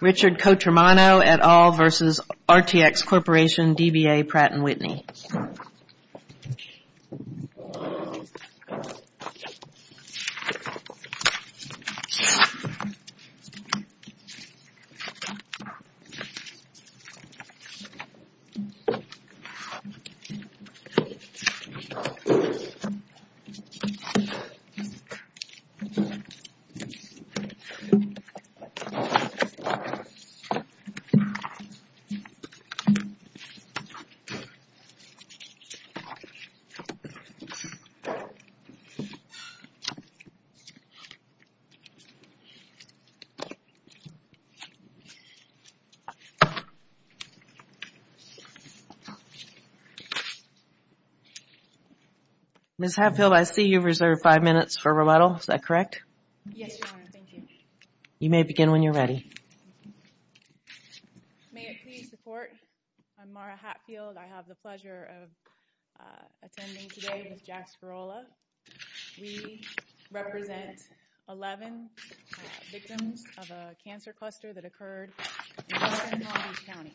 Richard Cotromano et al. v. RTX Corporation, DBA, Pratt & Whitney Ms. Hatfield, I see you've reserved five minutes for rebuttal. Is that correct? Yes, Your Honor. Thank you. You may begin when you're ready. May it please the Court, I'm Mara Hatfield. I have the pleasure of attending today with Jack Spirola. We represent 11 victims of a cancer cluster that occurred in western Long Beach County.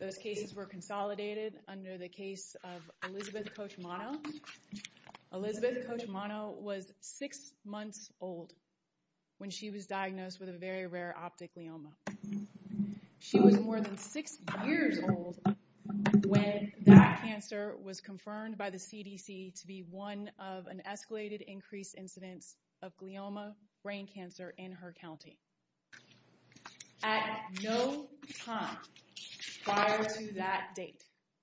Those cases were consolidated under the case of Elizabeth Cotromano. Elizabeth Cotromano was six months old when she was diagnosed with a very rare optic glioma. She was more than six years old when that cancer was confirmed by the CDC to be one of an escalated increased incidence of glioma brain cancer in her county. At no time prior to that date,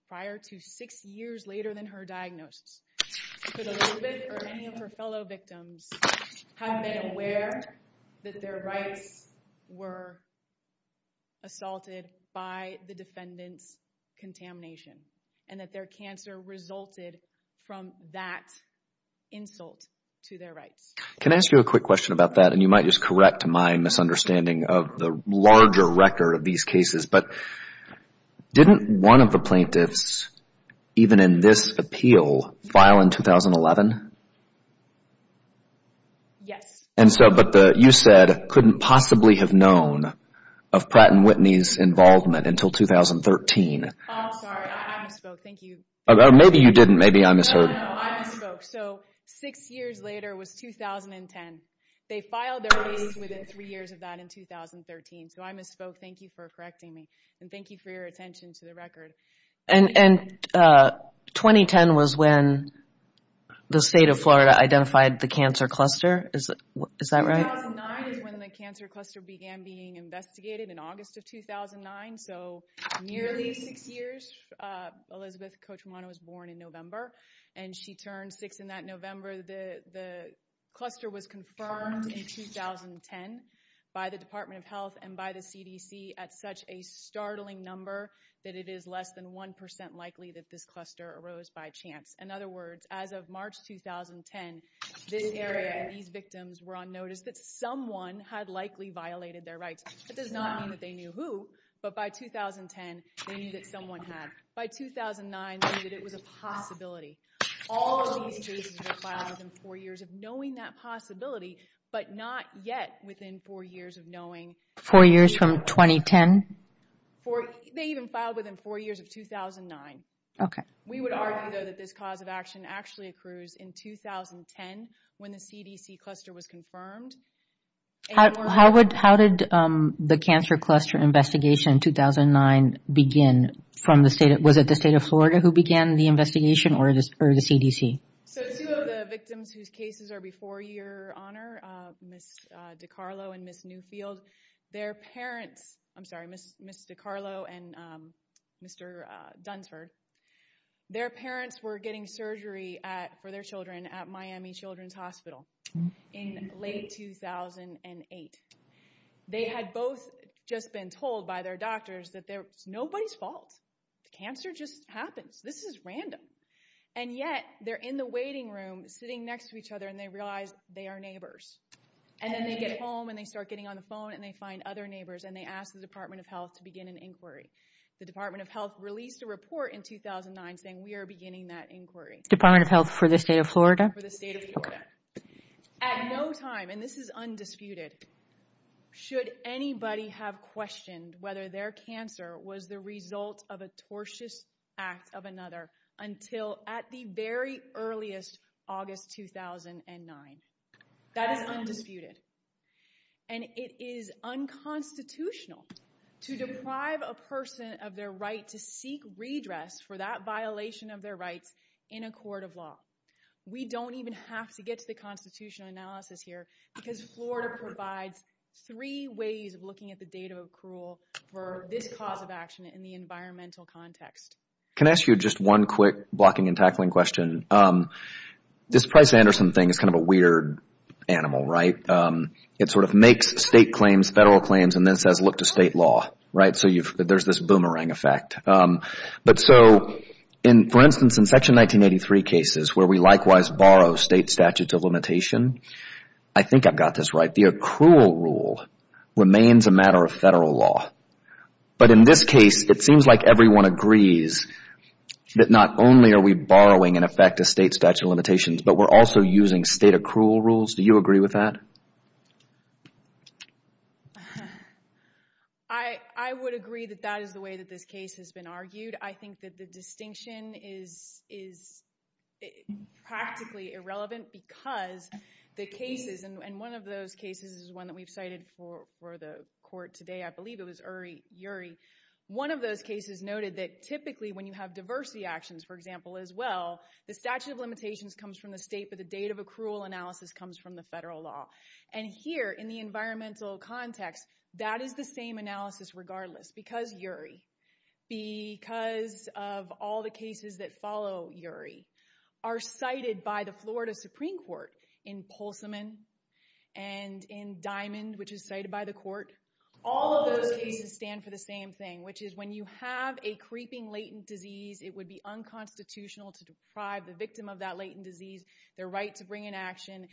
prior to six years later than her diagnosis, could Elizabeth or any of her fellow victims have been aware that their rights were assaulted by the defendant's contamination and that their cancer resulted from that insult to their rights. Can I ask you a quick question about that? And you might just correct my misunderstanding of the larger record of these cases. But didn't one of the plaintiffs, even in this appeal, file in 2011? Yes. But you said couldn't possibly have known of Pratt & Whitney's involvement until 2013. I'm sorry. I misspoke. Thank you. Maybe you didn't. Maybe I misheard. So six years later was 2010. They filed their case within three years of that in 2013. So I misspoke. Thank you for correcting me. And thank you for your attention to the record. And 2010 was when the state of Florida identified the cancer cluster. Is that right? 2009 is when the cancer cluster began being investigated in August of 2009. So nearly six years. Elizabeth Cochumano was born in November. And she turned six in that November. The cluster was confirmed in 2010 by the Department of Health and by the CDC at such a startling number that it is less than 1% likely that this cluster arose by chance. In other words, as of March 2010, this area, these victims were on notice that someone had likely violated their rights. That does not mean that they knew who. But by 2010, they knew that someone had. By 2009, they knew that it was a possibility. All of these cases were filed within four years of knowing that possibility, but not yet within four years of knowing. Four years from 2010? They even filed within four years of 2009. We would argue, though, that this cause of action actually occurs in 2010 when the CDC cluster was confirmed. How did the cancer cluster investigation in 2009 begin? Was it the state of Florida who began the investigation or the CDC? So two of the victims whose cases are before your honor, Ms. DiCarlo and Ms. Newfield, their parents, I'm sorry, Ms. DiCarlo and Mr. Dunsford, their parents were getting surgery for their children at Miami Children's Hospital in late 2008. They had both just been told by their doctors that it's nobody's fault. Cancer just happens. This is random. And yet, they're in the waiting room sitting next to each other, and they realize they are neighbors. And then they get home, and they start getting on the phone, and they find other neighbors, and they ask the Department of Health to begin an inquiry. The Department of Health released a report in 2009 saying we are beginning that inquiry. Department of Health for the state of Florida? For the state of Florida. At no time, and this is undisputed, should anybody have questioned whether their cancer was the result of a tortious act of another until at the very earliest, August 2009. That is undisputed. And it is unconstitutional to deprive a person of their right to seek redress for that violation of their rights in a court of law. We don't even have to get to the constitutional analysis here because Florida provides three ways of looking at the date of accrual for this cause of action in the environmental context. Can I ask you just one quick blocking and tackling question? This Price-Anderson thing is kind of a weird animal, right? It sort of makes state claims, federal claims, and then says look to state law, right? So there's this boomerang effect. But so, for instance, in Section 1983 cases where we likewise borrow state statutes of limitation, I think I've got this right. The accrual rule remains a matter of federal law. But in this case, it seems like everyone agrees that not only are we borrowing in effect a state statute of limitations, but we're also using state accrual rules. Do you agree with that? I would agree that that is the way that this case has been argued. I think that the distinction is practically irrelevant because the cases, and one of those cases is one that we've cited for the court today. I believe it was Uri. One of those cases noted that typically when you have diversity actions, for example, as well, the statute of limitations comes from the state, but the date of accrual analysis comes from the federal law. And here in the environmental context, that is the same analysis regardless. Because Uri, because of all the cases that follow Uri, are cited by the Florida Supreme Court in Pulsiman and in Diamond, which is cited by the court. All of those cases stand for the same thing, which is when you have a creeping latent disease, it would be unconstitutional to deprive the victim of that latent disease their right to bring an action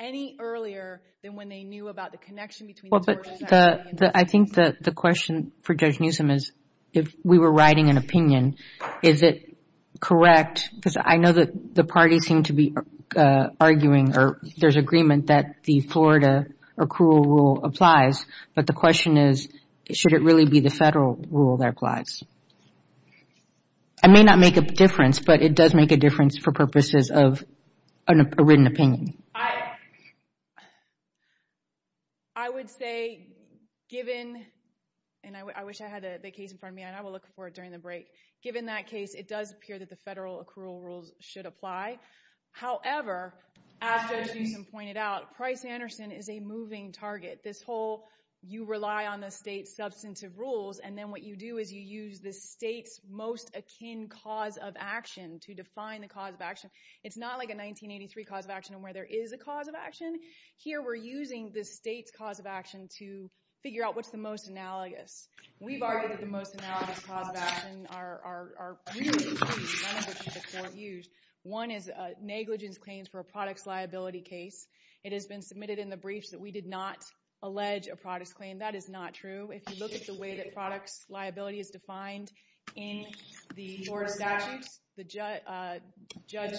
any earlier than when they knew about the connection between the source of that latent disease. I think that the question for Judge Newsom is if we were writing an opinion, is it correct, because I know that the parties seem to be arguing or there's agreement that the Florida accrual rule applies, but the question is should it really be the federal rule that applies? It may not make a difference, but it does make a difference for purposes of a written opinion. I would say given, and I wish I had the case in front of me, and I will look for it during the break. Given that case, it does appear that the federal accrual rules should apply. However, as Judge Newsom pointed out, Price-Anderson is a moving target. You rely on the state's substantive rules, and then what you do is you use the state's most akin cause of action to define the cause of action. It's not like a 1983 cause of action where there is a cause of action. Here we're using the state's cause of action to figure out what's the most analogous. We've argued that the most analogous cause of action are really two things, none of which the court used. One is negligence claims for a products liability case. It has been submitted in the briefs that we did not allege a products claim. That is not true. If you look at the way that products liability is defined in the court statutes, Judge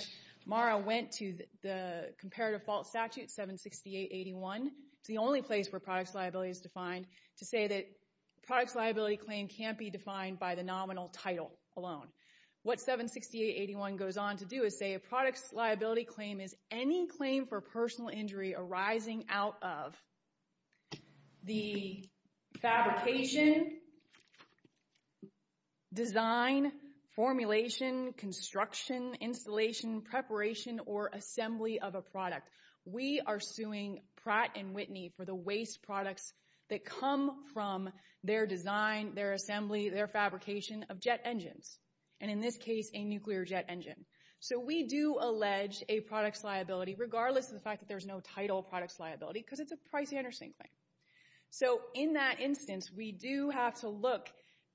Marra went to the comparative fault statute 768-81. It's the only place where products liability is defined to say that products liability claim can't be defined by the nominal title alone. What 768-81 goes on to do is say a products liability claim is any claim for personal injury arising out of the fabrication, design, formulation, construction, installation, preparation, or assembly of a product. We are suing Pratt & Whitney for the waste products that come from their design, their assembly, their fabrication of jet engines, and in this case a nuclear jet engine. We do allege a products liability regardless of the fact that there's no title products liability because it's a pricey understanding claim. In that instance, we do have to look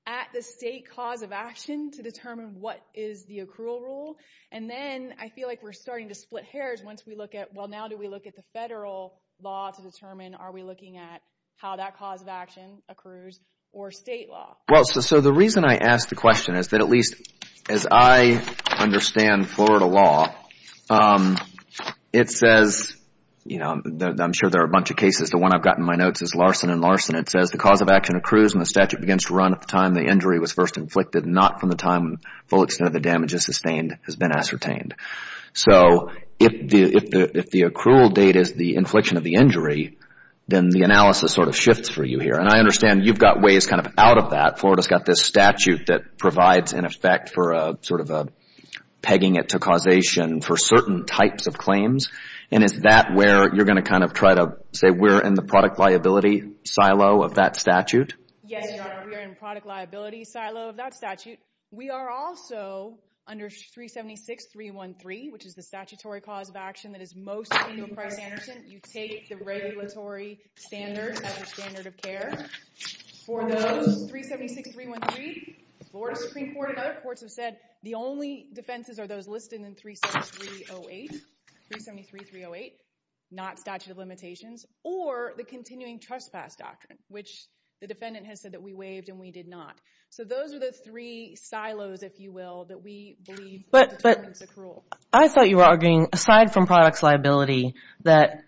at the state cause of action to determine what is the accrual rule. Then I feel like we're starting to split hairs once we look at, well, now do we look at the federal law to determine are we looking at how that cause of action accrues or state law? Well, so the reason I ask the question is that at least as I understand Florida law, it says, you know, I'm sure there are a bunch of cases. The one I've got in my notes is Larson & Larson. It says the cause of action accrues when the statute begins to run at the time the injury was first inflicted, not from the time the full extent of the damage is sustained has been ascertained. So if the accrual date is the infliction of the injury, then the analysis sort of shifts for you here. And I understand you've got ways kind of out of that. Florida's got this statute that provides an effect for sort of pegging it to causation for certain types of claims. And is that where you're going to kind of try to say we're in the product liability silo of that statute? Yes, Your Honor, we're in the product liability silo of that statute. We are also under 376.313, which is the statutory cause of action that is most in your price understanding. You take the regulatory standards as your standard of care. For those, 376.313, Florida Supreme Court and other courts have said the only defenses are those listed in 373.308, 373.308, not statute of limitations, or the continuing trespass doctrine, which the defendant has said that we waived and we did not. So those are the three silos, if you will, that we believe determines accrual. But I thought you were arguing, aside from products liability, that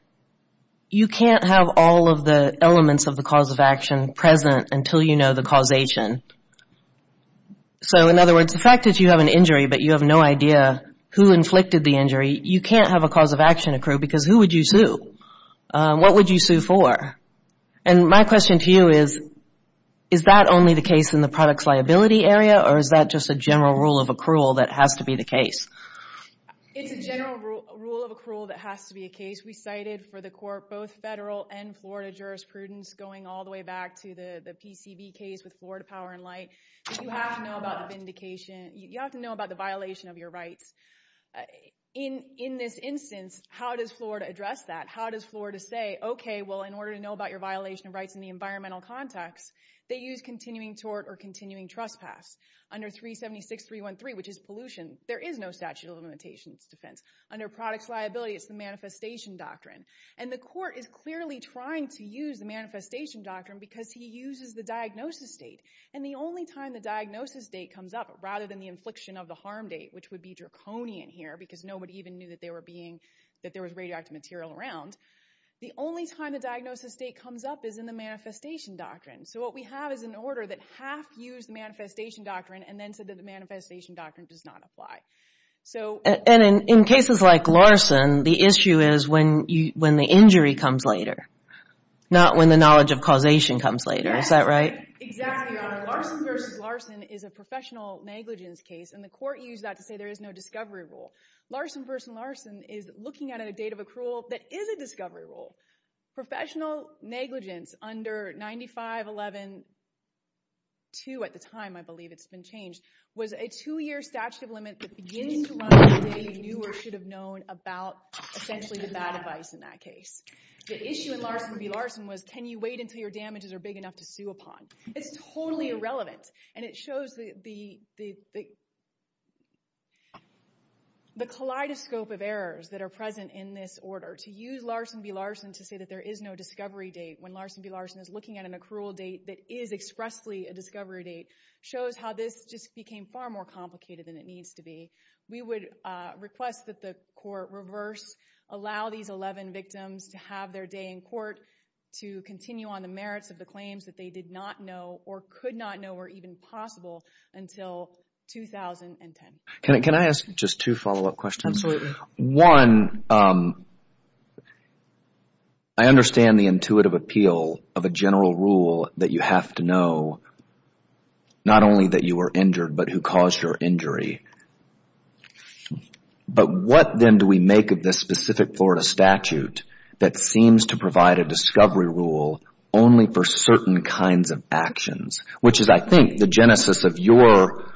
you can't have all of the elements of the cause of action present until you know the causation. So, in other words, the fact that you have an injury but you have no idea who inflicted the injury, you can't have a cause of action accrue because who would you sue? What would you sue for? And my question to you is, is that only the case in the products liability area or is that just a general rule of accrual that has to be the case? It's a general rule of accrual that has to be a case. We cited for the court both federal and Florida jurisprudence going all the way back to the PCV case with Florida Power and Light. You have to know about vindication. You have to know about the violation of your rights. In this instance, how does Florida address that? How does Florida say, okay, well, in order to know about your violation of rights in the environmental context, they use continuing tort or continuing trespass. Under 376.313, which is pollution, there is no statute of limitations defense. Under products liability, it's the manifestation doctrine. And the court is clearly trying to use the manifestation doctrine because he uses the diagnosis date. And the only time the diagnosis date comes up, rather than the infliction of the harm date, which would be draconian here because nobody even knew that there was radioactive material around, the only time the diagnosis date comes up is in the manifestation doctrine. So what we have is an order that half used the manifestation doctrine and then said that the manifestation doctrine does not apply. And in cases like Larson, the issue is when the injury comes later, not when the knowledge of causation comes later. Is that right? Exactly, Your Honor. Larson v. Larson is a professional negligence case, and the court used that to say there is no discovery rule. Larson v. Larson is looking at a date of accrual that is a discovery rule. Professional negligence under 95-11-2 at the time, I believe it's been changed, was a two-year statute of limits that begins to run as they knew or should have known about essentially the bad advice in that case. The issue in Larson v. Larson was, can you wait until your damages are big enough to sue upon? It's totally irrelevant. And it shows the kaleidoscope of errors that are present in this order. To use Larson v. Larson to say that there is no discovery date when Larson v. Larson is looking at an accrual date that is expressly a discovery date shows how this just became far more complicated than it needs to be. We would request that the court reverse, allow these 11 victims to have their day in court to continue on the merits of the claims that they did not know or could not know were even possible until 2010. Can I ask just two follow-up questions? Absolutely. One, I understand the intuitive appeal of a general rule that you have to know not only that you were injured but who caused your injury. But what then do we make of this specific Florida statute that seems to provide a discovery rule only for certain kinds of actions, which is, I think, the genesis of your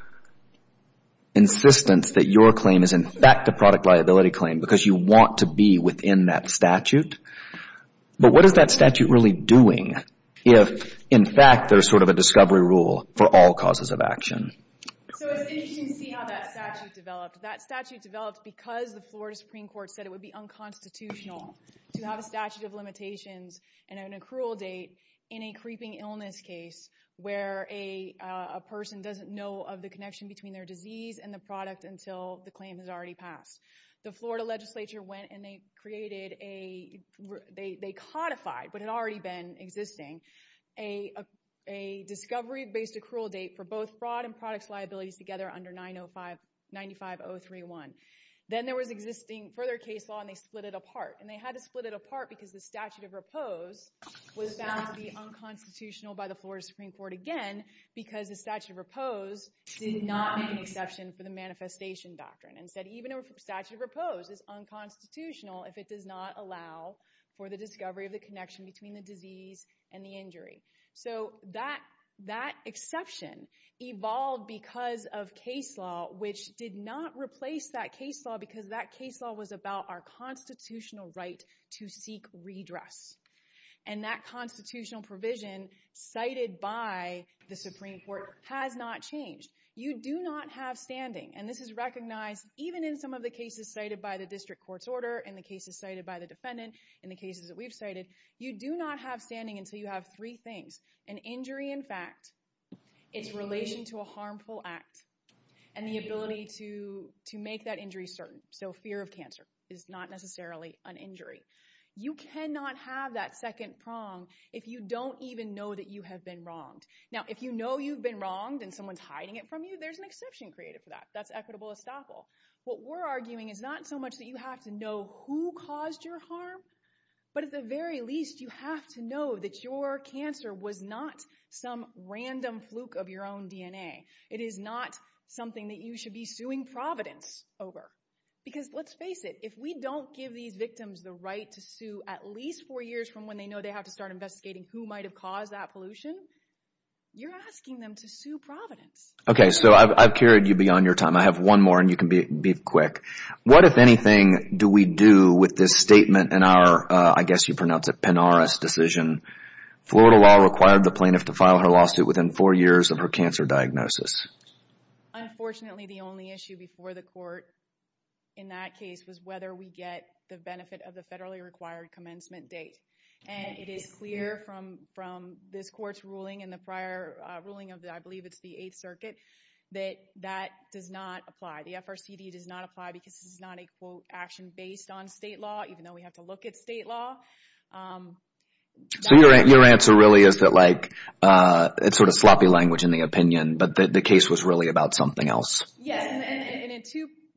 insistence that your claim is, in fact, a product liability claim because you want to be within that statute. But what is that statute really doing if, in fact, there's sort of a discovery rule for all causes of action? So it's interesting to see how that statute developed. That statute developed because the Florida Supreme Court said it would be unconstitutional to have a statute of limitations and an accrual date in a creeping illness case where a person doesn't know of the connection between their disease and the product until the claim has already passed. The Florida legislature went and they created a— they codified, but it had already been existing, a discovery-based accrual date for both fraud and products liabilities together under 95031. Then there was existing further case law, and they split it apart. And they had to split it apart because the statute of repose was found to be unconstitutional by the Florida Supreme Court again because the statute of repose did not make an exception for the manifestation doctrine. Instead, even a statute of repose is unconstitutional if it does not allow for the discovery of the connection between the disease and the injury. So that exception evolved because of case law, which did not replace that case law because that case law was about our constitutional right to seek redress. And that constitutional provision cited by the Supreme Court has not changed. You do not have standing, and this is recognized even in some of the cases cited by the district court's order and the cases cited by the defendant and the cases that we've cited. You do not have standing until you have three things, an injury in fact, its relation to a harmful act, and the ability to make that injury certain. So fear of cancer is not necessarily an injury. You cannot have that second prong if you don't even know that you have been wronged. Now, if you know you've been wronged and someone's hiding it from you, there's an exception created for that. That's equitable estoppel. What we're arguing is not so much that you have to know who caused your harm, but at the very least, you have to know that your cancer was not some random fluke of your own DNA. It is not something that you should be suing Providence over. Because let's face it, if we don't give these victims the right to sue at least four years from when they know they have to start investigating who might have caused that pollution, you're asking them to sue Providence. Okay, so I've carried you beyond your time. I have one more, and you can be quick. What, if anything, do we do with this statement in our, I guess you pronounce it, Penaris decision? Florida law required the plaintiff to file her lawsuit within four years of her cancer diagnosis. Unfortunately, the only issue before the court in that case was whether we get the benefit of the federally required commencement date. And it is clear from this court's ruling and the prior ruling of, I believe it's the Eighth Circuit, that that does not apply. The FRCD does not apply because this is not a, quote, action based on state law, even though we have to look at state law. So your answer really is that, like, it's sort of sloppy language in the opinion, but the case was really about something else. Yes, and in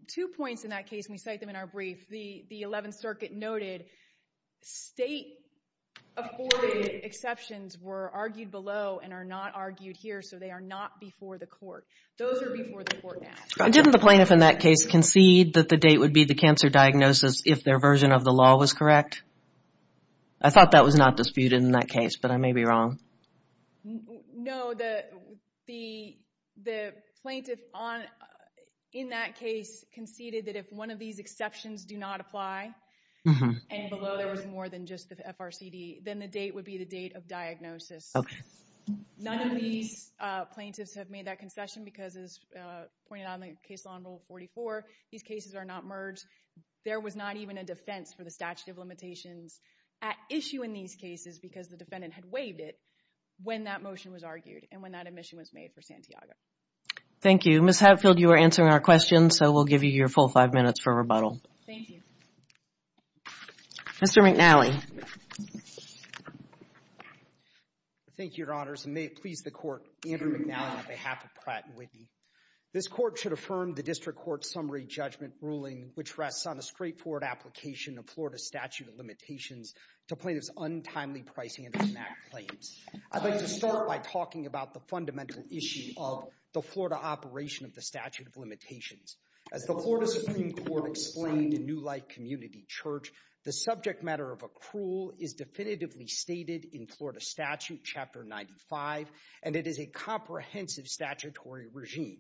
two points in that case, and we cite them in our brief, the Eleventh Circuit noted state-afforded exceptions were argued below and are not argued here, so they are not before the court. Those are before the court now. Didn't the plaintiff in that case concede that the date would be the cancer diagnosis if their version of the law was correct? I thought that was not disputed in that case, but I may be wrong. No, the plaintiff in that case conceded that if one of these exceptions do not apply, and below there was more than just the FRCD, then the date would be the date of diagnosis. None of these plaintiffs have made that concession because, as pointed out in the case law in Rule 44, these cases are not merged. There was not even a defense for the statute of limitations at issue in these cases because the defendant had waived it when that motion was argued and when that admission was made for Santiago. Thank you. Ms. Hatfield, you are answering our questions, so we'll give you your full five minutes for rebuttal. Thank you. Mr. McNally. Thank you, Your Honors. And may it please the Court, Andrew McNally on behalf of Pratt & Whitney. This Court should affirm the District Court's summary judgment ruling, which rests on the straightforward application of Florida statute of limitations to plaintiffs' untimely price-handling MAC claims. I'd like to start by talking about the fundamental issue of the Florida operation of the statute of limitations. As the Florida Supreme Court explained in New Light Community Church, the subject matter of accrual is definitively stated in Florida Statute, Chapter 95, and it is a comprehensive statutory regime.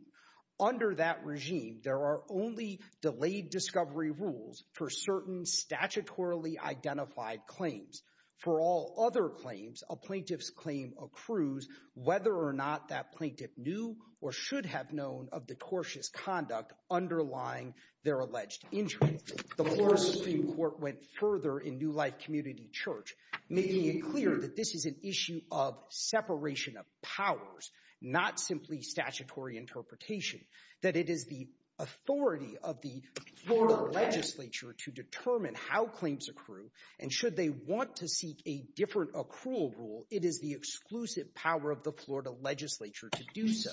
Under that regime, there are only delayed discovery rules for certain statutorily identified claims. For all other claims, a plaintiff's claim accrues whether or not that plaintiff knew or should have known of the tortious conduct underlying their alleged injury. The Florida Supreme Court went further in New Light Community Church, making it clear that this is an issue of separation of powers, not simply statutory interpretation, that it is the authority of the Florida legislature to determine how claims accrue, and should they want to seek a different accrual rule, it is the exclusive power of the Florida legislature to do so.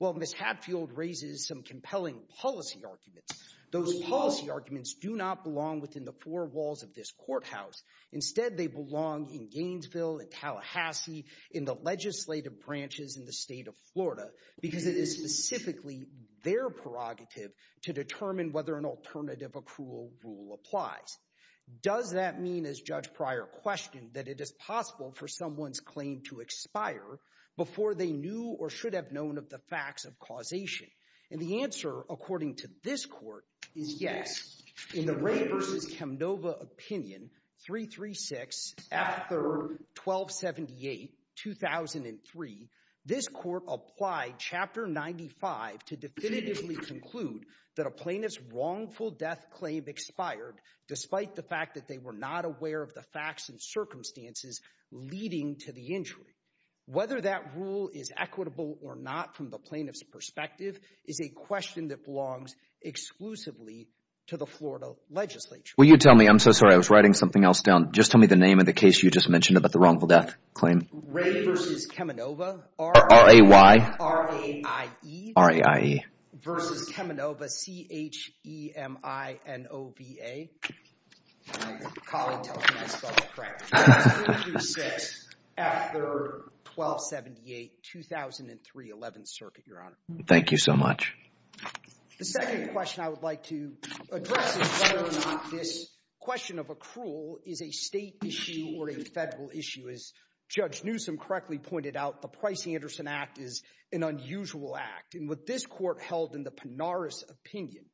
Well, Ms. Hadfield raises some compelling policy arguments. Those policy arguments do not belong within the four walls of this courthouse. Instead, they belong in Gainesville, in Tallahassee, in the legislative branches in the state of Florida because it is specifically their prerogative to determine whether an alternative accrual rule applies. Does that mean, as Judge Pryor questioned, that it is possible for someone's claim to expire before they knew or should have known of the facts of causation? And the answer, according to this Court, is yes. In the Ray v. Chemnova opinion, 336 F. 3rd, 1278, 2003, this Court applied Chapter 95 to definitively conclude that a plaintiff's wrongful death claim expired despite the fact that they were not aware of the facts and circumstances leading to the injury. Whether that rule is equitable or not from the plaintiff's perspective is a question that belongs exclusively to the Florida legislature. Will you tell me? I'm so sorry. I was writing something else down. Just tell me the name of the case you just mentioned about the wrongful death claim. Ray v. Chemnova. R-A-Y. R-A-I-E. R-A-I-E. v. Chemnova, C-H-E-M-I-N-O-V-A. Collin, tell him I spelled it correct. 336 F. 3rd, 1278, 2003, 11th Circuit, Your Honor. Thank you so much. The second question I would like to address is whether or not this question of accrual is a state issue or a federal issue is, as Judge Newsom correctly pointed out, the Price-Anderson Act is an unusual act. And what this court held in the Pinaris opinion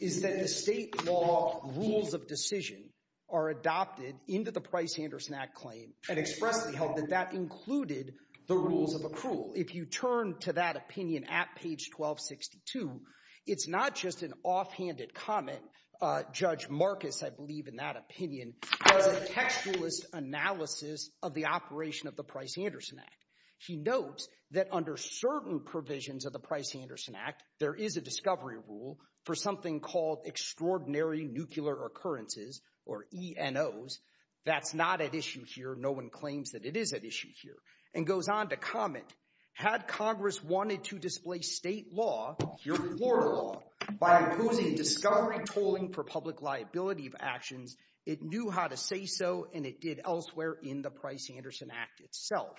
is that the state law rules of decision are adopted into the Price-Anderson Act claim and expressly held that that included the rules of accrual. If you turn to that opinion at page 1262, it's not just an offhanded comment. Judge Marcus, I believe in that opinion, does a textualist analysis of the operation of the Price-Anderson Act. He notes that under certain provisions of the Price-Anderson Act, there is a discovery rule for something called Extraordinary Nuclear Occurrences, or ENOs. That's not at issue here. No one claims that it is at issue here. And goes on to comment, had Congress wanted to display state law, your Florida law, by imposing discovery tolling for public liability of actions, it knew how to say so, and it did elsewhere in the Price-Anderson Act itself.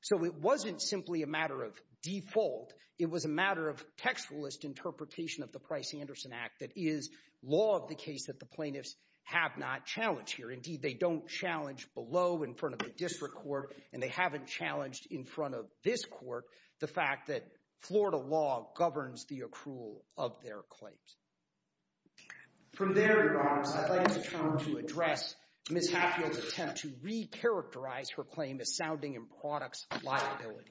So it wasn't simply a matter of default. It was a matter of textualist interpretation of the Price-Anderson Act that is law of the case that the plaintiffs have not challenged here. Indeed, they don't challenge below in front of the district court, and they haven't challenged in front of this court the fact that Florida law governs the accrual of their claims. From there, Your Honor, I'd like to turn to address Ms. Hatfield's attempt to re-characterize her claim as sounding in products of liability.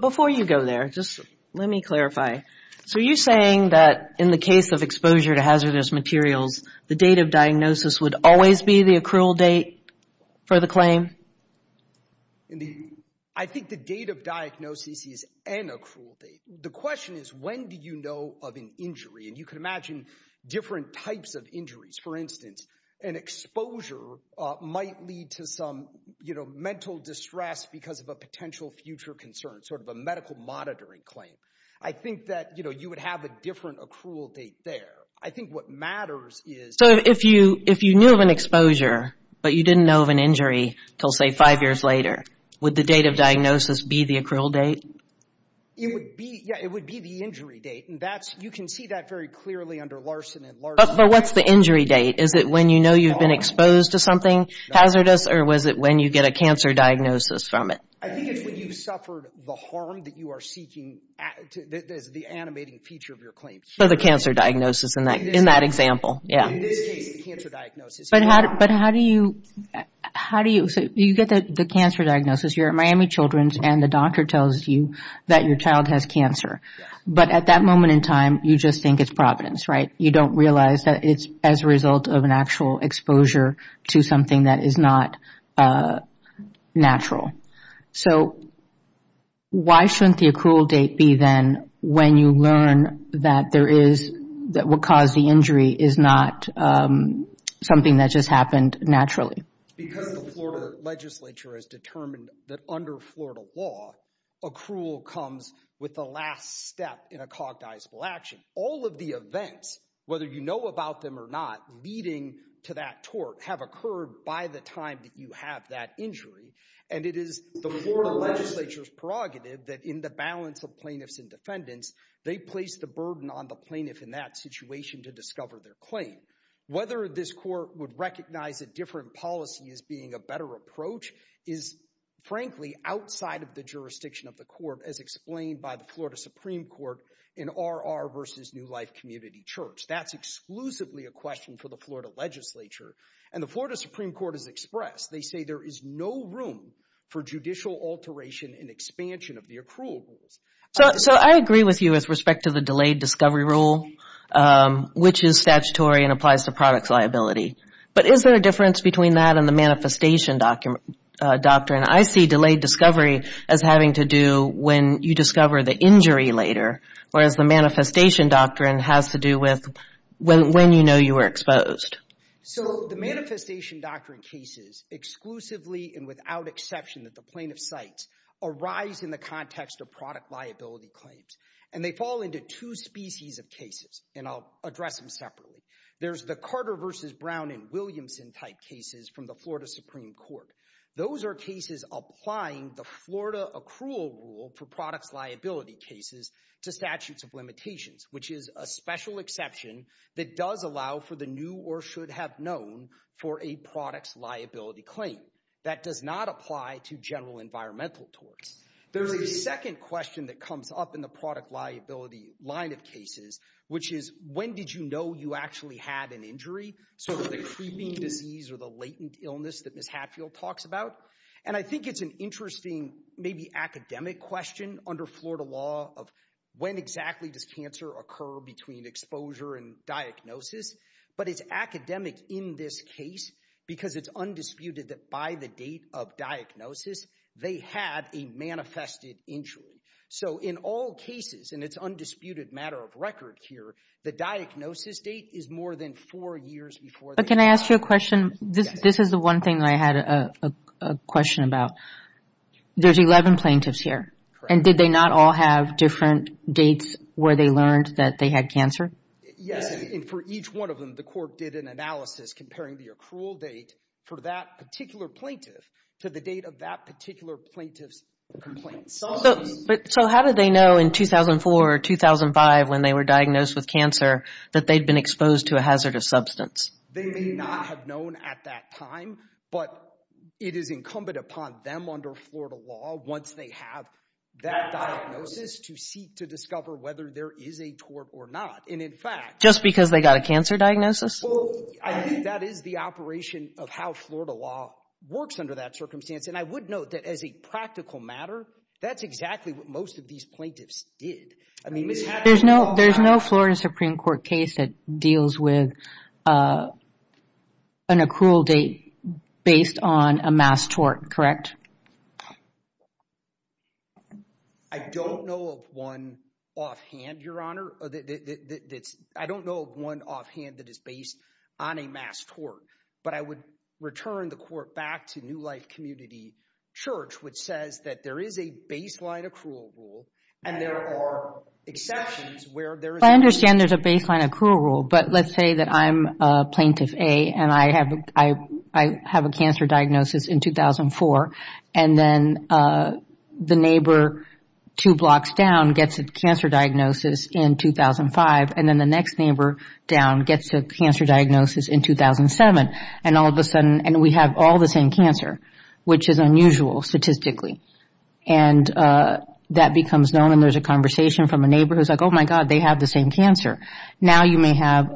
Before you go there, just let me clarify. So are you saying that in the case of exposure to hazardous materials, the date of diagnosis would always be the accrual date for the claim? I think the date of diagnosis is an accrual date. The question is, when do you know of an injury? And you can imagine different types of injuries. For instance, an exposure might lead to some mental distress because of a potential future concern, sort of a medical monitoring claim. I think that you would have a different accrual date there. I think what matters is- So if you knew of an exposure, but you didn't know of an injury until, say, five years later, would the date of diagnosis be the accrual date? It would be. Yeah, it would be the injury date. And you can see that very clearly under Larson and Larson. But what's the injury date? Is it when you know you've been exposed to something hazardous, or was it when you get a cancer diagnosis from it? I think it's when you've suffered the harm that you are seeking as the animating feature of your claim. So the cancer diagnosis in that example. It is the cancer diagnosis. But how do you- So you get the cancer diagnosis. You're at Miami Children's, and the doctor tells you that your child has cancer. But at that moment in time, you just think it's providence, right? You don't realize that it's as a result of an actual exposure to something that is not natural. So why shouldn't the accrual date be then when you learn that what caused the injury is not something that just happened naturally? Because the Florida legislature has determined that under Florida law, accrual comes with the last step in a cognizable action. All of the events, whether you know about them or not, leading to that tort have occurred by the time that you have that injury. And it is the Florida legislature's prerogative that in the balance of plaintiffs and defendants, they place the burden on the plaintiff in that situation to discover their claim. Whether this court would recognize a different policy as being a better approach is, frankly, outside of the jurisdiction of the court, as explained by the Florida Supreme Court in R.R. v. New Life Community Church. That's exclusively a question for the Florida legislature. And the Florida Supreme Court has expressed, they say there is no room for judicial alteration and expansion of the accrual rules. So I agree with you with respect to the delayed discovery rule, which is statutory and applies to product liability. But is there a difference between that and the manifestation doctrine? I see delayed discovery as having to do when you discover the injury later, whereas the manifestation doctrine has to do with when you know you were exposed. So the manifestation doctrine cases, exclusively and without exception, that the plaintiff cites, arise in the context of product liability claims. And they fall into two species of cases, and I'll address them separately. There's the Carter v. Brown and Williamson type cases from the Florida Supreme Court. Those are cases applying the Florida accrual rule for products liability cases to statutes of limitations, which is a special exception that does allow for the new or should have known for a products liability claim. That does not apply to general environmental torts. There's a second question that comes up in the product liability line of cases, which is when did you know you actually had an injury? So the creeping disease or the latent illness that Ms. Hatfield talks about. And I think it's an interesting, maybe academic question under Florida law of when exactly does cancer occur between exposure and diagnosis. But it's academic in this case because it's undisputed that by the date of diagnosis, they had a manifested injury. So in all cases, and it's undisputed matter of record, the diagnosis date is more than four years before... But can I ask you a question? This is the one thing I had a question about. There's 11 plaintiffs here. And did they not all have different dates where they learned that they had cancer? Yes, and for each one of them, the court did an analysis comparing the accrual date for that particular plaintiff to the date of that particular plaintiff's complaints. So how did they know in 2004 or 2005 when they were diagnosed with cancer that they'd been exposed to a hazardous substance? They may not have known at that time, but it is incumbent upon them under Florida law once they have that diagnosis to seek to discover whether there is a tort or not. And in fact... Just because they got a cancer diagnosis? Well, I think that is the operation of how Florida law works under that circumstance. And I would note that as a practical matter, that's exactly what most of these plaintiffs did. There's no Florida Supreme Court case that deals with an accrual date based on a mass tort, correct? I don't know of one offhand, Your Honor. I don't know of one offhand that is based on a mass tort. But I would return the court back to New Life Community Church, which says that there is a baseline accrual rule and there are exceptions where there is... I understand there's a baseline accrual rule, but let's say that I'm Plaintiff A and I have a cancer diagnosis in 2004 and then the neighbor two blocks down gets a cancer diagnosis in 2005 and then the next neighbor down gets a cancer diagnosis in 2007. And we have all the same cancer, which is unusual statistically. And that becomes known and there's a conversation from a neighbor who's like, oh my God, they have the same cancer. Now you may have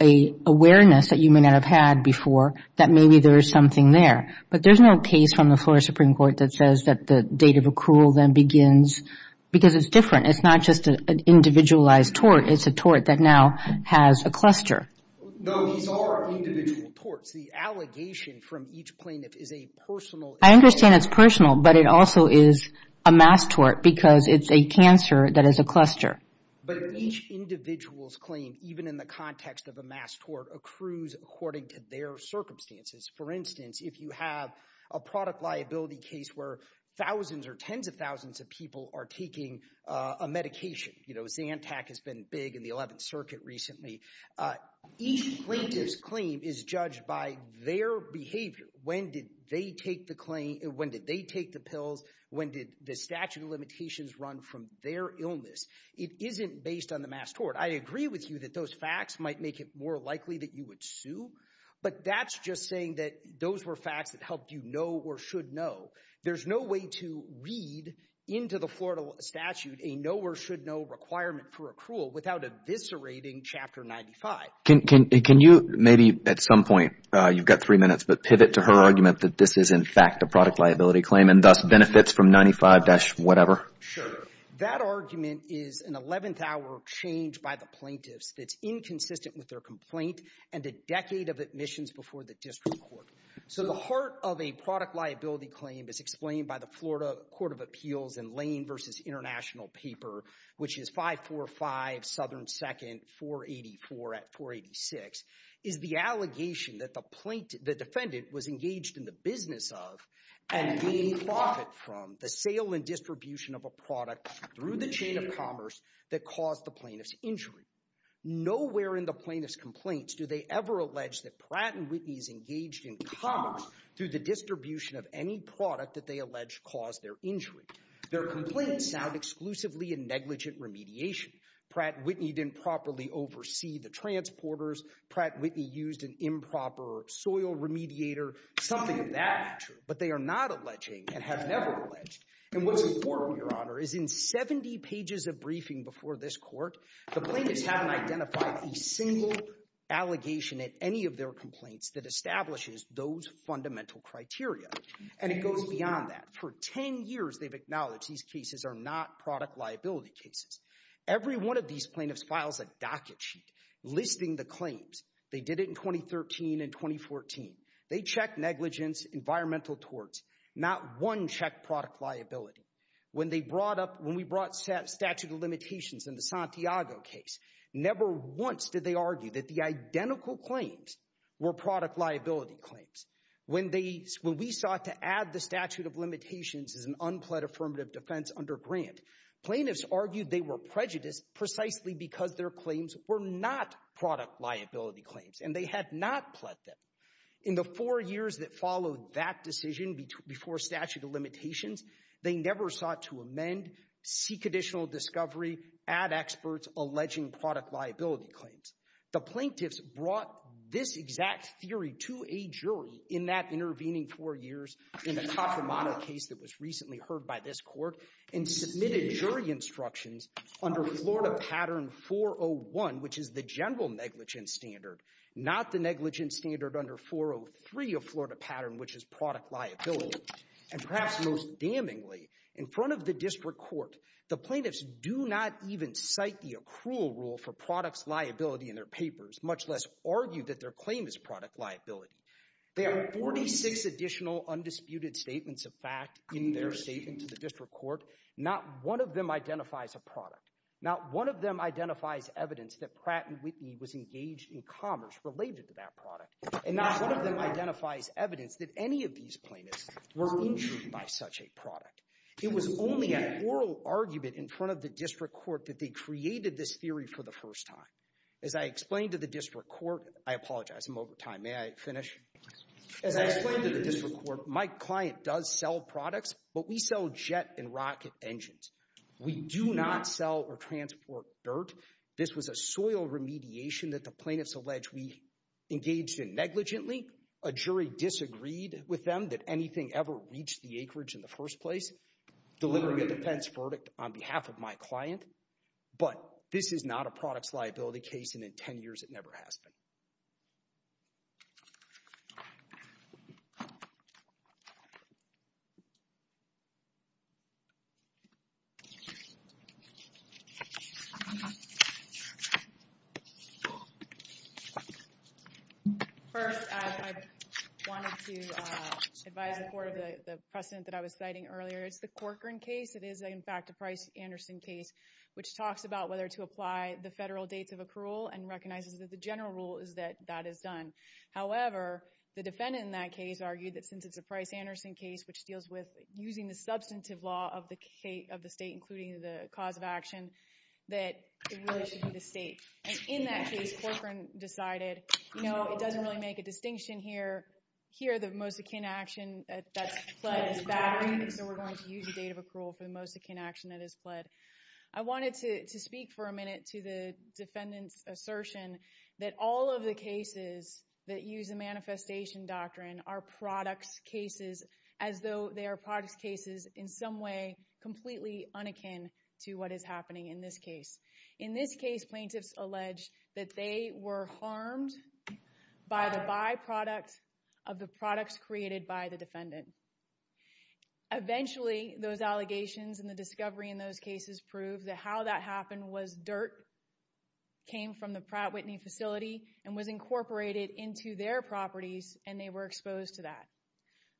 an awareness that you may not have had before that maybe there is something there. But there's no case from the Florida Supreme Court that says that the date of accrual then begins... Because it's different. It's not just an individualized tort. It's a tort that now has a cluster. No, these are individual torts. The allegation from each plaintiff is a personal... I understand it's personal, but it also is a mass tort because it's a cancer that is a cluster. But each individual's claim, even in the context of a mass tort, accrues according to their circumstances. For instance, if you have a product liability case where thousands or tens of thousands of people are taking a medication. Zantac has been big in the 11th Circuit recently. Each plaintiff's claim is judged by their behavior. When did they take the pills? When did the statute of limitations run from their illness? It isn't based on the mass tort. I agree with you that those facts might make it more likely that you would sue. But that's just saying that those were facts that helped you know or should know. There's no way to read into the Florida statute a know or should know requirement for accrual without eviscerating Chapter 95. Can you maybe at some point... You've got three minutes, but pivot to her argument that this is in fact a product liability claim and thus benefits from 95-whatever? Sure. That argument is an 11th-hour change by the plaintiffs that's inconsistent with their complaint and a decade of admissions before the district court. So the heart of a product liability claim as explained by the Florida Court of Appeals in Lane v. International paper, which is 545 Southern 2nd, 484 at 486, is the allegation that the defendant was engaged in the business of and gained profit from the sale and distribution of a product through the chain of commerce that caused the plaintiff's injury. Nowhere in the plaintiff's complaints do they ever allege that Pratt & Whitney is engaged in commerce through the distribution of any product that they allege caused their injury. Their complaints sound exclusively a negligent remediation. Pratt & Whitney didn't properly oversee the transporters. Pratt & Whitney used an improper soil remediator. Something of that nature. But they are not alleging and have never alleged. And what's important, Your Honor, is in 70 pages of briefing before this court, the plaintiffs haven't identified a single allegation at any of their complaints that establishes those fundamental criteria. And it goes beyond that. For 10 years, they've acknowledged these cases are not product liability cases. Every one of these plaintiffs files a docket sheet listing the claims. They did it in 2013 and 2014. They checked negligence, environmental torts. Not one checked product liability. When we brought statute of limitations in the Santiago case, never once did they argue that the identical claims were product liability claims. When we sought to add the statute of limitations as an unpled affirmative defense under Grant, plaintiffs argued they were prejudiced precisely because their claims were not product liability claims. And they had not pled them. In the four years that followed that decision before statute of limitations, they never sought to amend, seek additional discovery, add experts alleging product liability claims. The plaintiffs brought this exact theory to a jury in that intervening four years in the Caccomano case that was recently heard by this court and submitted jury instructions under Florida Pattern 401, which is the general negligence standard, not the negligence standard under 403 of Florida Pattern, which is product liability. And perhaps most damningly, in front of the district court, the plaintiffs do not even cite the accrual rule for product liability in their papers, much less argue that their claim is product liability. There are 46 additional undisputed statements of fact in their statement to the district court. Not one of them identifies a product. Not one of them identifies evidence that Pratt and Whitney was engaged in commerce related to that product. And not one of them identifies evidence that any of these plaintiffs were injured by such a product. It was only an oral argument in front of the district court that they created this theory for the first time. As I explain to the district court, I apologize, I'm over time. May I finish? As I explained to the district court, my client does sell products, but we sell jet and rocket engines. We do not sell or transport dirt. This was a soil remediation that the plaintiffs allege we engaged in negligently. A jury disagreed with them that anything ever reached the acreage in the first place, delivering a defense verdict on behalf of my client. But this is not a products liability case, and in 10 years it never has been. First, I wanted to advise the court of the precedent that I was citing earlier. It's the Corcoran case. It is, in fact, a Price-Anderson case, which talks about whether to apply the federal dates of accrual and recognizes that the general rule is that that is done. However, the defendant in that case argued that since it's a Price-Anderson case, which deals with using the substantive law of the state, including the cause of action, that it really should be the state. And in that case, Corcoran decided, no, it doesn't really make a distinction here. Here, the most akin action that's pled is battery, so we're going to use the date of accrual for the most akin action that is pled. I wanted to speak for a minute to the defendant's assertion that all of the cases that use the manifestation doctrine are products cases, as though they are products cases in some way completely unakin to what is happening in this case. In this case, plaintiffs allege that they were harmed by the byproduct of the products created by the defendant. Eventually, those allegations and the discovery in those cases prove that how that happened was dirt came from the Pratt Whitney facility and was incorporated into their properties, and they were exposed to that.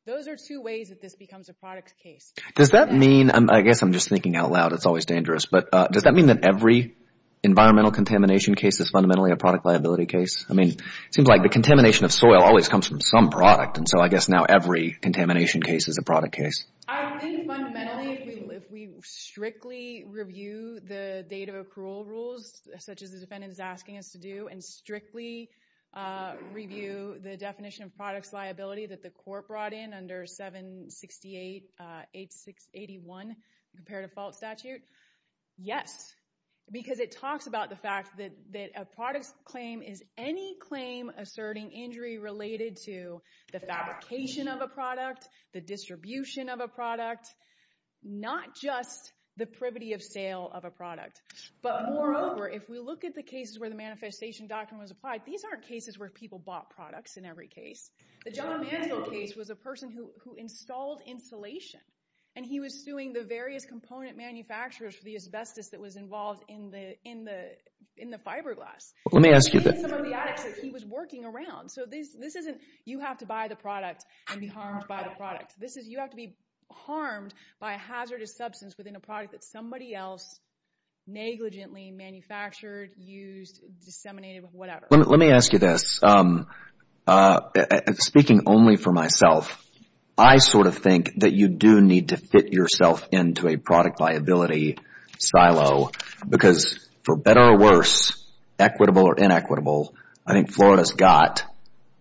Those are two ways that this becomes a product case. Does that mean I guess I'm just thinking out loud, it's always dangerous, but does that mean that every environmental contamination case is fundamentally a product liability case? I mean, it seems like the contamination of soil always comes from some product, and so I guess now every contamination case is a product case. I think fundamentally if we strictly review the date of accrual rules such as the defendant is asking us to do and strictly review the definition of products liability that the court brought in under 768-8681 comparative fault statute, yes. Because it talks about the fact that a product claim is any claim asserting injury related to the fabrication of a product, not just the privity of sale of a product. But moreover, if we look at the cases where the manifestation doctrine was applied, these aren't cases where people bought products in every case. The John Mantel case was a person who installed insulation, and he was suing the various component manufacturers for the asbestos that was involved in the fiberglass. Let me ask you... He was working around, so this isn't you have to buy the product and be harmed by the product. You have to be harmed by a hazardous substance within a product that somebody else negligently manufactured, used, disseminated, whatever. Let me ask you this. Speaking only for myself, I sort of think that you do need to fit yourself into a product liability silo because for better or worse, equitable or inequitable, I think Florida's got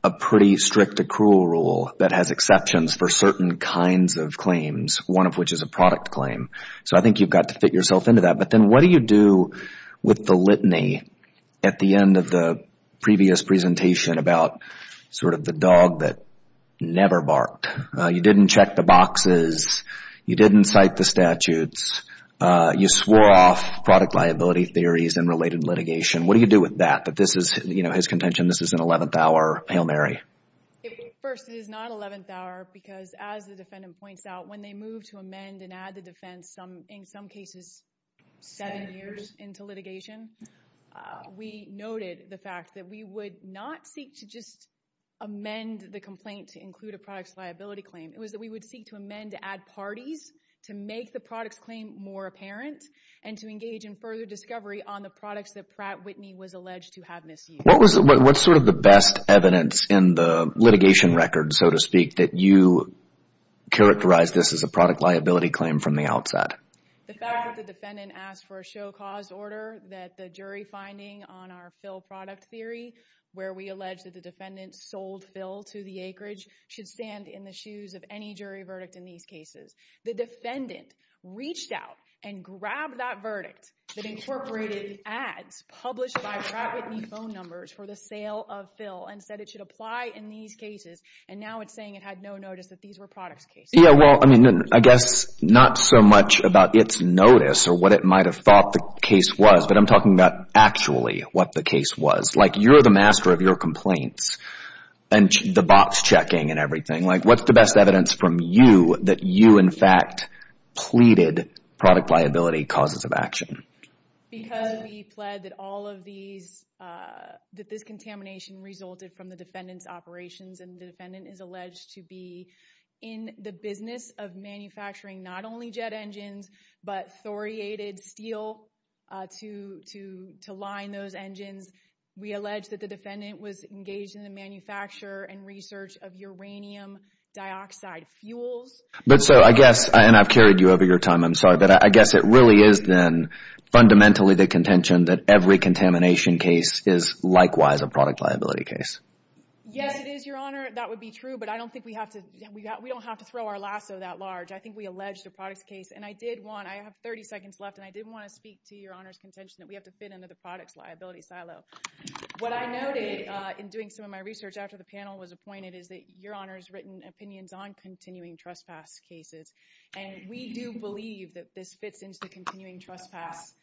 a pretty strict accrual rule that has exceptions for certain kinds of claims, one of which is a product claim. So I think you've got to fit yourself into that. But then what do you do with the litany at the end of the previous presentation about sort of the dog that never barked? You didn't check the boxes. You didn't cite the statutes. You swore off product liability theories and related litigation. What do you do with that? That this is, you know, his contention, this is an eleventh hour Hail Mary. First, it is not eleventh hour because as the defendant points out, when they move to amend and add the defense, in some cases, seven years into litigation, we noted the fact that we would not seek to just amend the complaint to include a product's liability claim. It was that we would seek to amend to add parties to make the product's claim more apparent and to engage in further discovery on the products that Whitney was alleged to have misused. What was sort of the best evidence in the litigation record, so to speak, that you characterized this as a product liability claim from the outside? The fact that the defendant asked for a show cause order, that the jury finding on our fill product theory, where we allege that the defendant sold fill to the acreage, should stand in the shoes of any jury verdict in these cases. The defendant reached out and grabbed that verdict that incorporated ads published by Brad Whitney phone numbers for the sale of fill and said it should apply in these cases, and now it's saying it had no notice that these were products cases. Yeah, well, I mean, I guess not so much about its notice or what it might have thought the case was, but I'm talking about actually what the case was. Like, you're the master of your complaints and the box checking and everything. Like, what's the best evidence from you that you, in fact, pleaded product liability causes of action? Because we pled that all of these, that this contamination resulted from the defendant's operations, and the defendant is alleged to be in the business of manufacturing not only jet engines, but thoriated steel to line those engines. We allege that the defendant was engaged in the manufacture and research of uranium dioxide fuels. But so, I guess, and I've carried you over your time, I'm sorry, but I guess it really is then fundamentally the contention that every contamination case is likewise a product liability case. Yes, it is, Your Honor. That would be true, but I don't think we have to, we don't have to throw our lasso that large. I think we allege the products case, and I did want, I have 30 seconds left, and I did want to speak to Your Honor's contention that we have to fit into the products liability silo. What I noted in doing some of my research after the panel was appointed is that Your Honor's written opinions on continuing trespass cases, and we do believe that this fits into the continuing trespass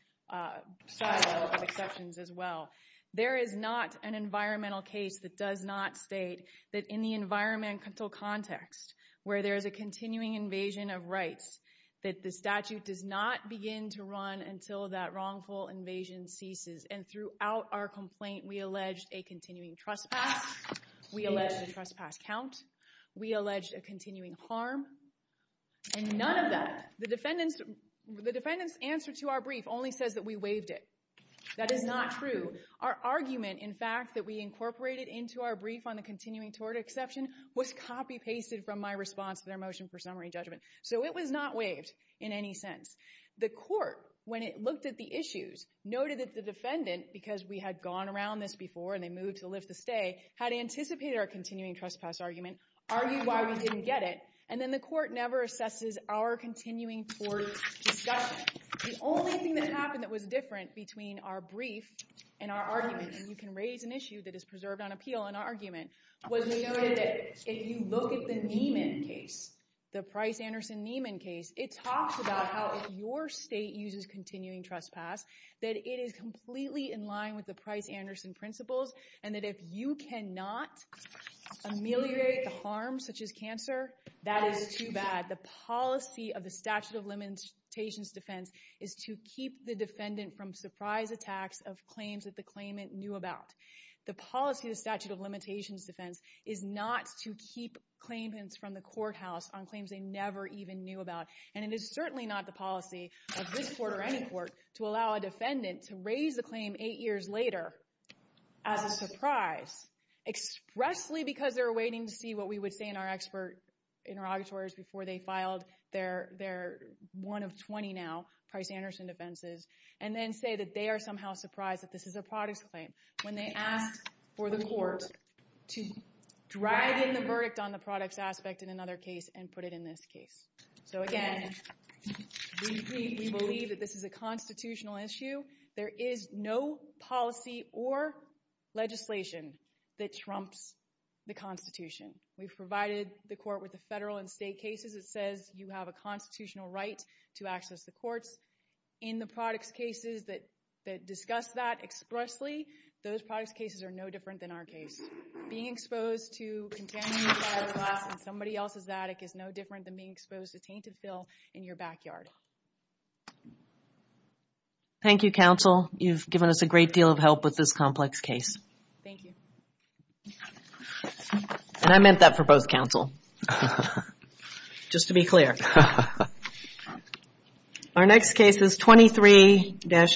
silo of exceptions as well. There is not an environmental case that does not state that in the environmental context, where there is a continuing invasion of rights, that the statute does not begin to run until that wrongful invasion ceases. And throughout our complaint, we allege a continuing trespass. We allege a continuing trespass count. We allege a continuing harm. And none of that, the defendant's answer to our brief only says that we waived it. That is not true. Our argument, in fact, that we incorporated into our brief on the continuing tort exception was copy-pasted from my response to their motion for summary judgment. So it was not waived in any sense. The court, when it looked at the issues, noted that the defendant, because we had gone around this before, and they moved to lift the stay, had anticipated our continuing trespass argument, argued why we didn't get it, and then the court never assesses our continuing tort discussion. The only thing that happened that was different between our brief and our argument, and you can raise an issue that is preserved on appeal in our argument, was we noted that if you look at the Niemann case, the Price-Anderson-Niemann case, it talks about how if your state uses continuing trespass, that it is completely in line with the Price-Anderson principles, and that if you cannot ameliorate the harm, such as cancer, that is too bad. The policy of the statute of limitations defense is to keep the defendant from surprise attacks of claims that the claimant knew about. The policy of the statute of limitations defense is not to keep claimants from the courthouse on claims they never even knew about. And it is certainly not the policy of this court or any court to allow a defendant to raise a claim eight years later as a surprise, expressly because they're waiting to see what we would say in our expert interrogatories before they filed their one of 20 now Price-Anderson defenses, and then say that they are somehow surprised that this is a products claim when they ask for the court to drag in the verdict on the products aspect in another case and put it in this case. So again, we believe that this is a constitutional issue. There is no policy or legislation that trumps the constitution. We've provided the court with the federal and state cases. It says you have a constitutional right to access the courts. In the products cases that discuss that expressly, those products cases are no different than our case. Being exposed to contaminated fiberglass in somebody else's attic is no different than being exposed to tainted fill in your backyard. Thank you counsel. You've given us a great deal of help with this complex case. Thank you. And I meant that for both counsel. Just to be clear. Our next case is 23-2.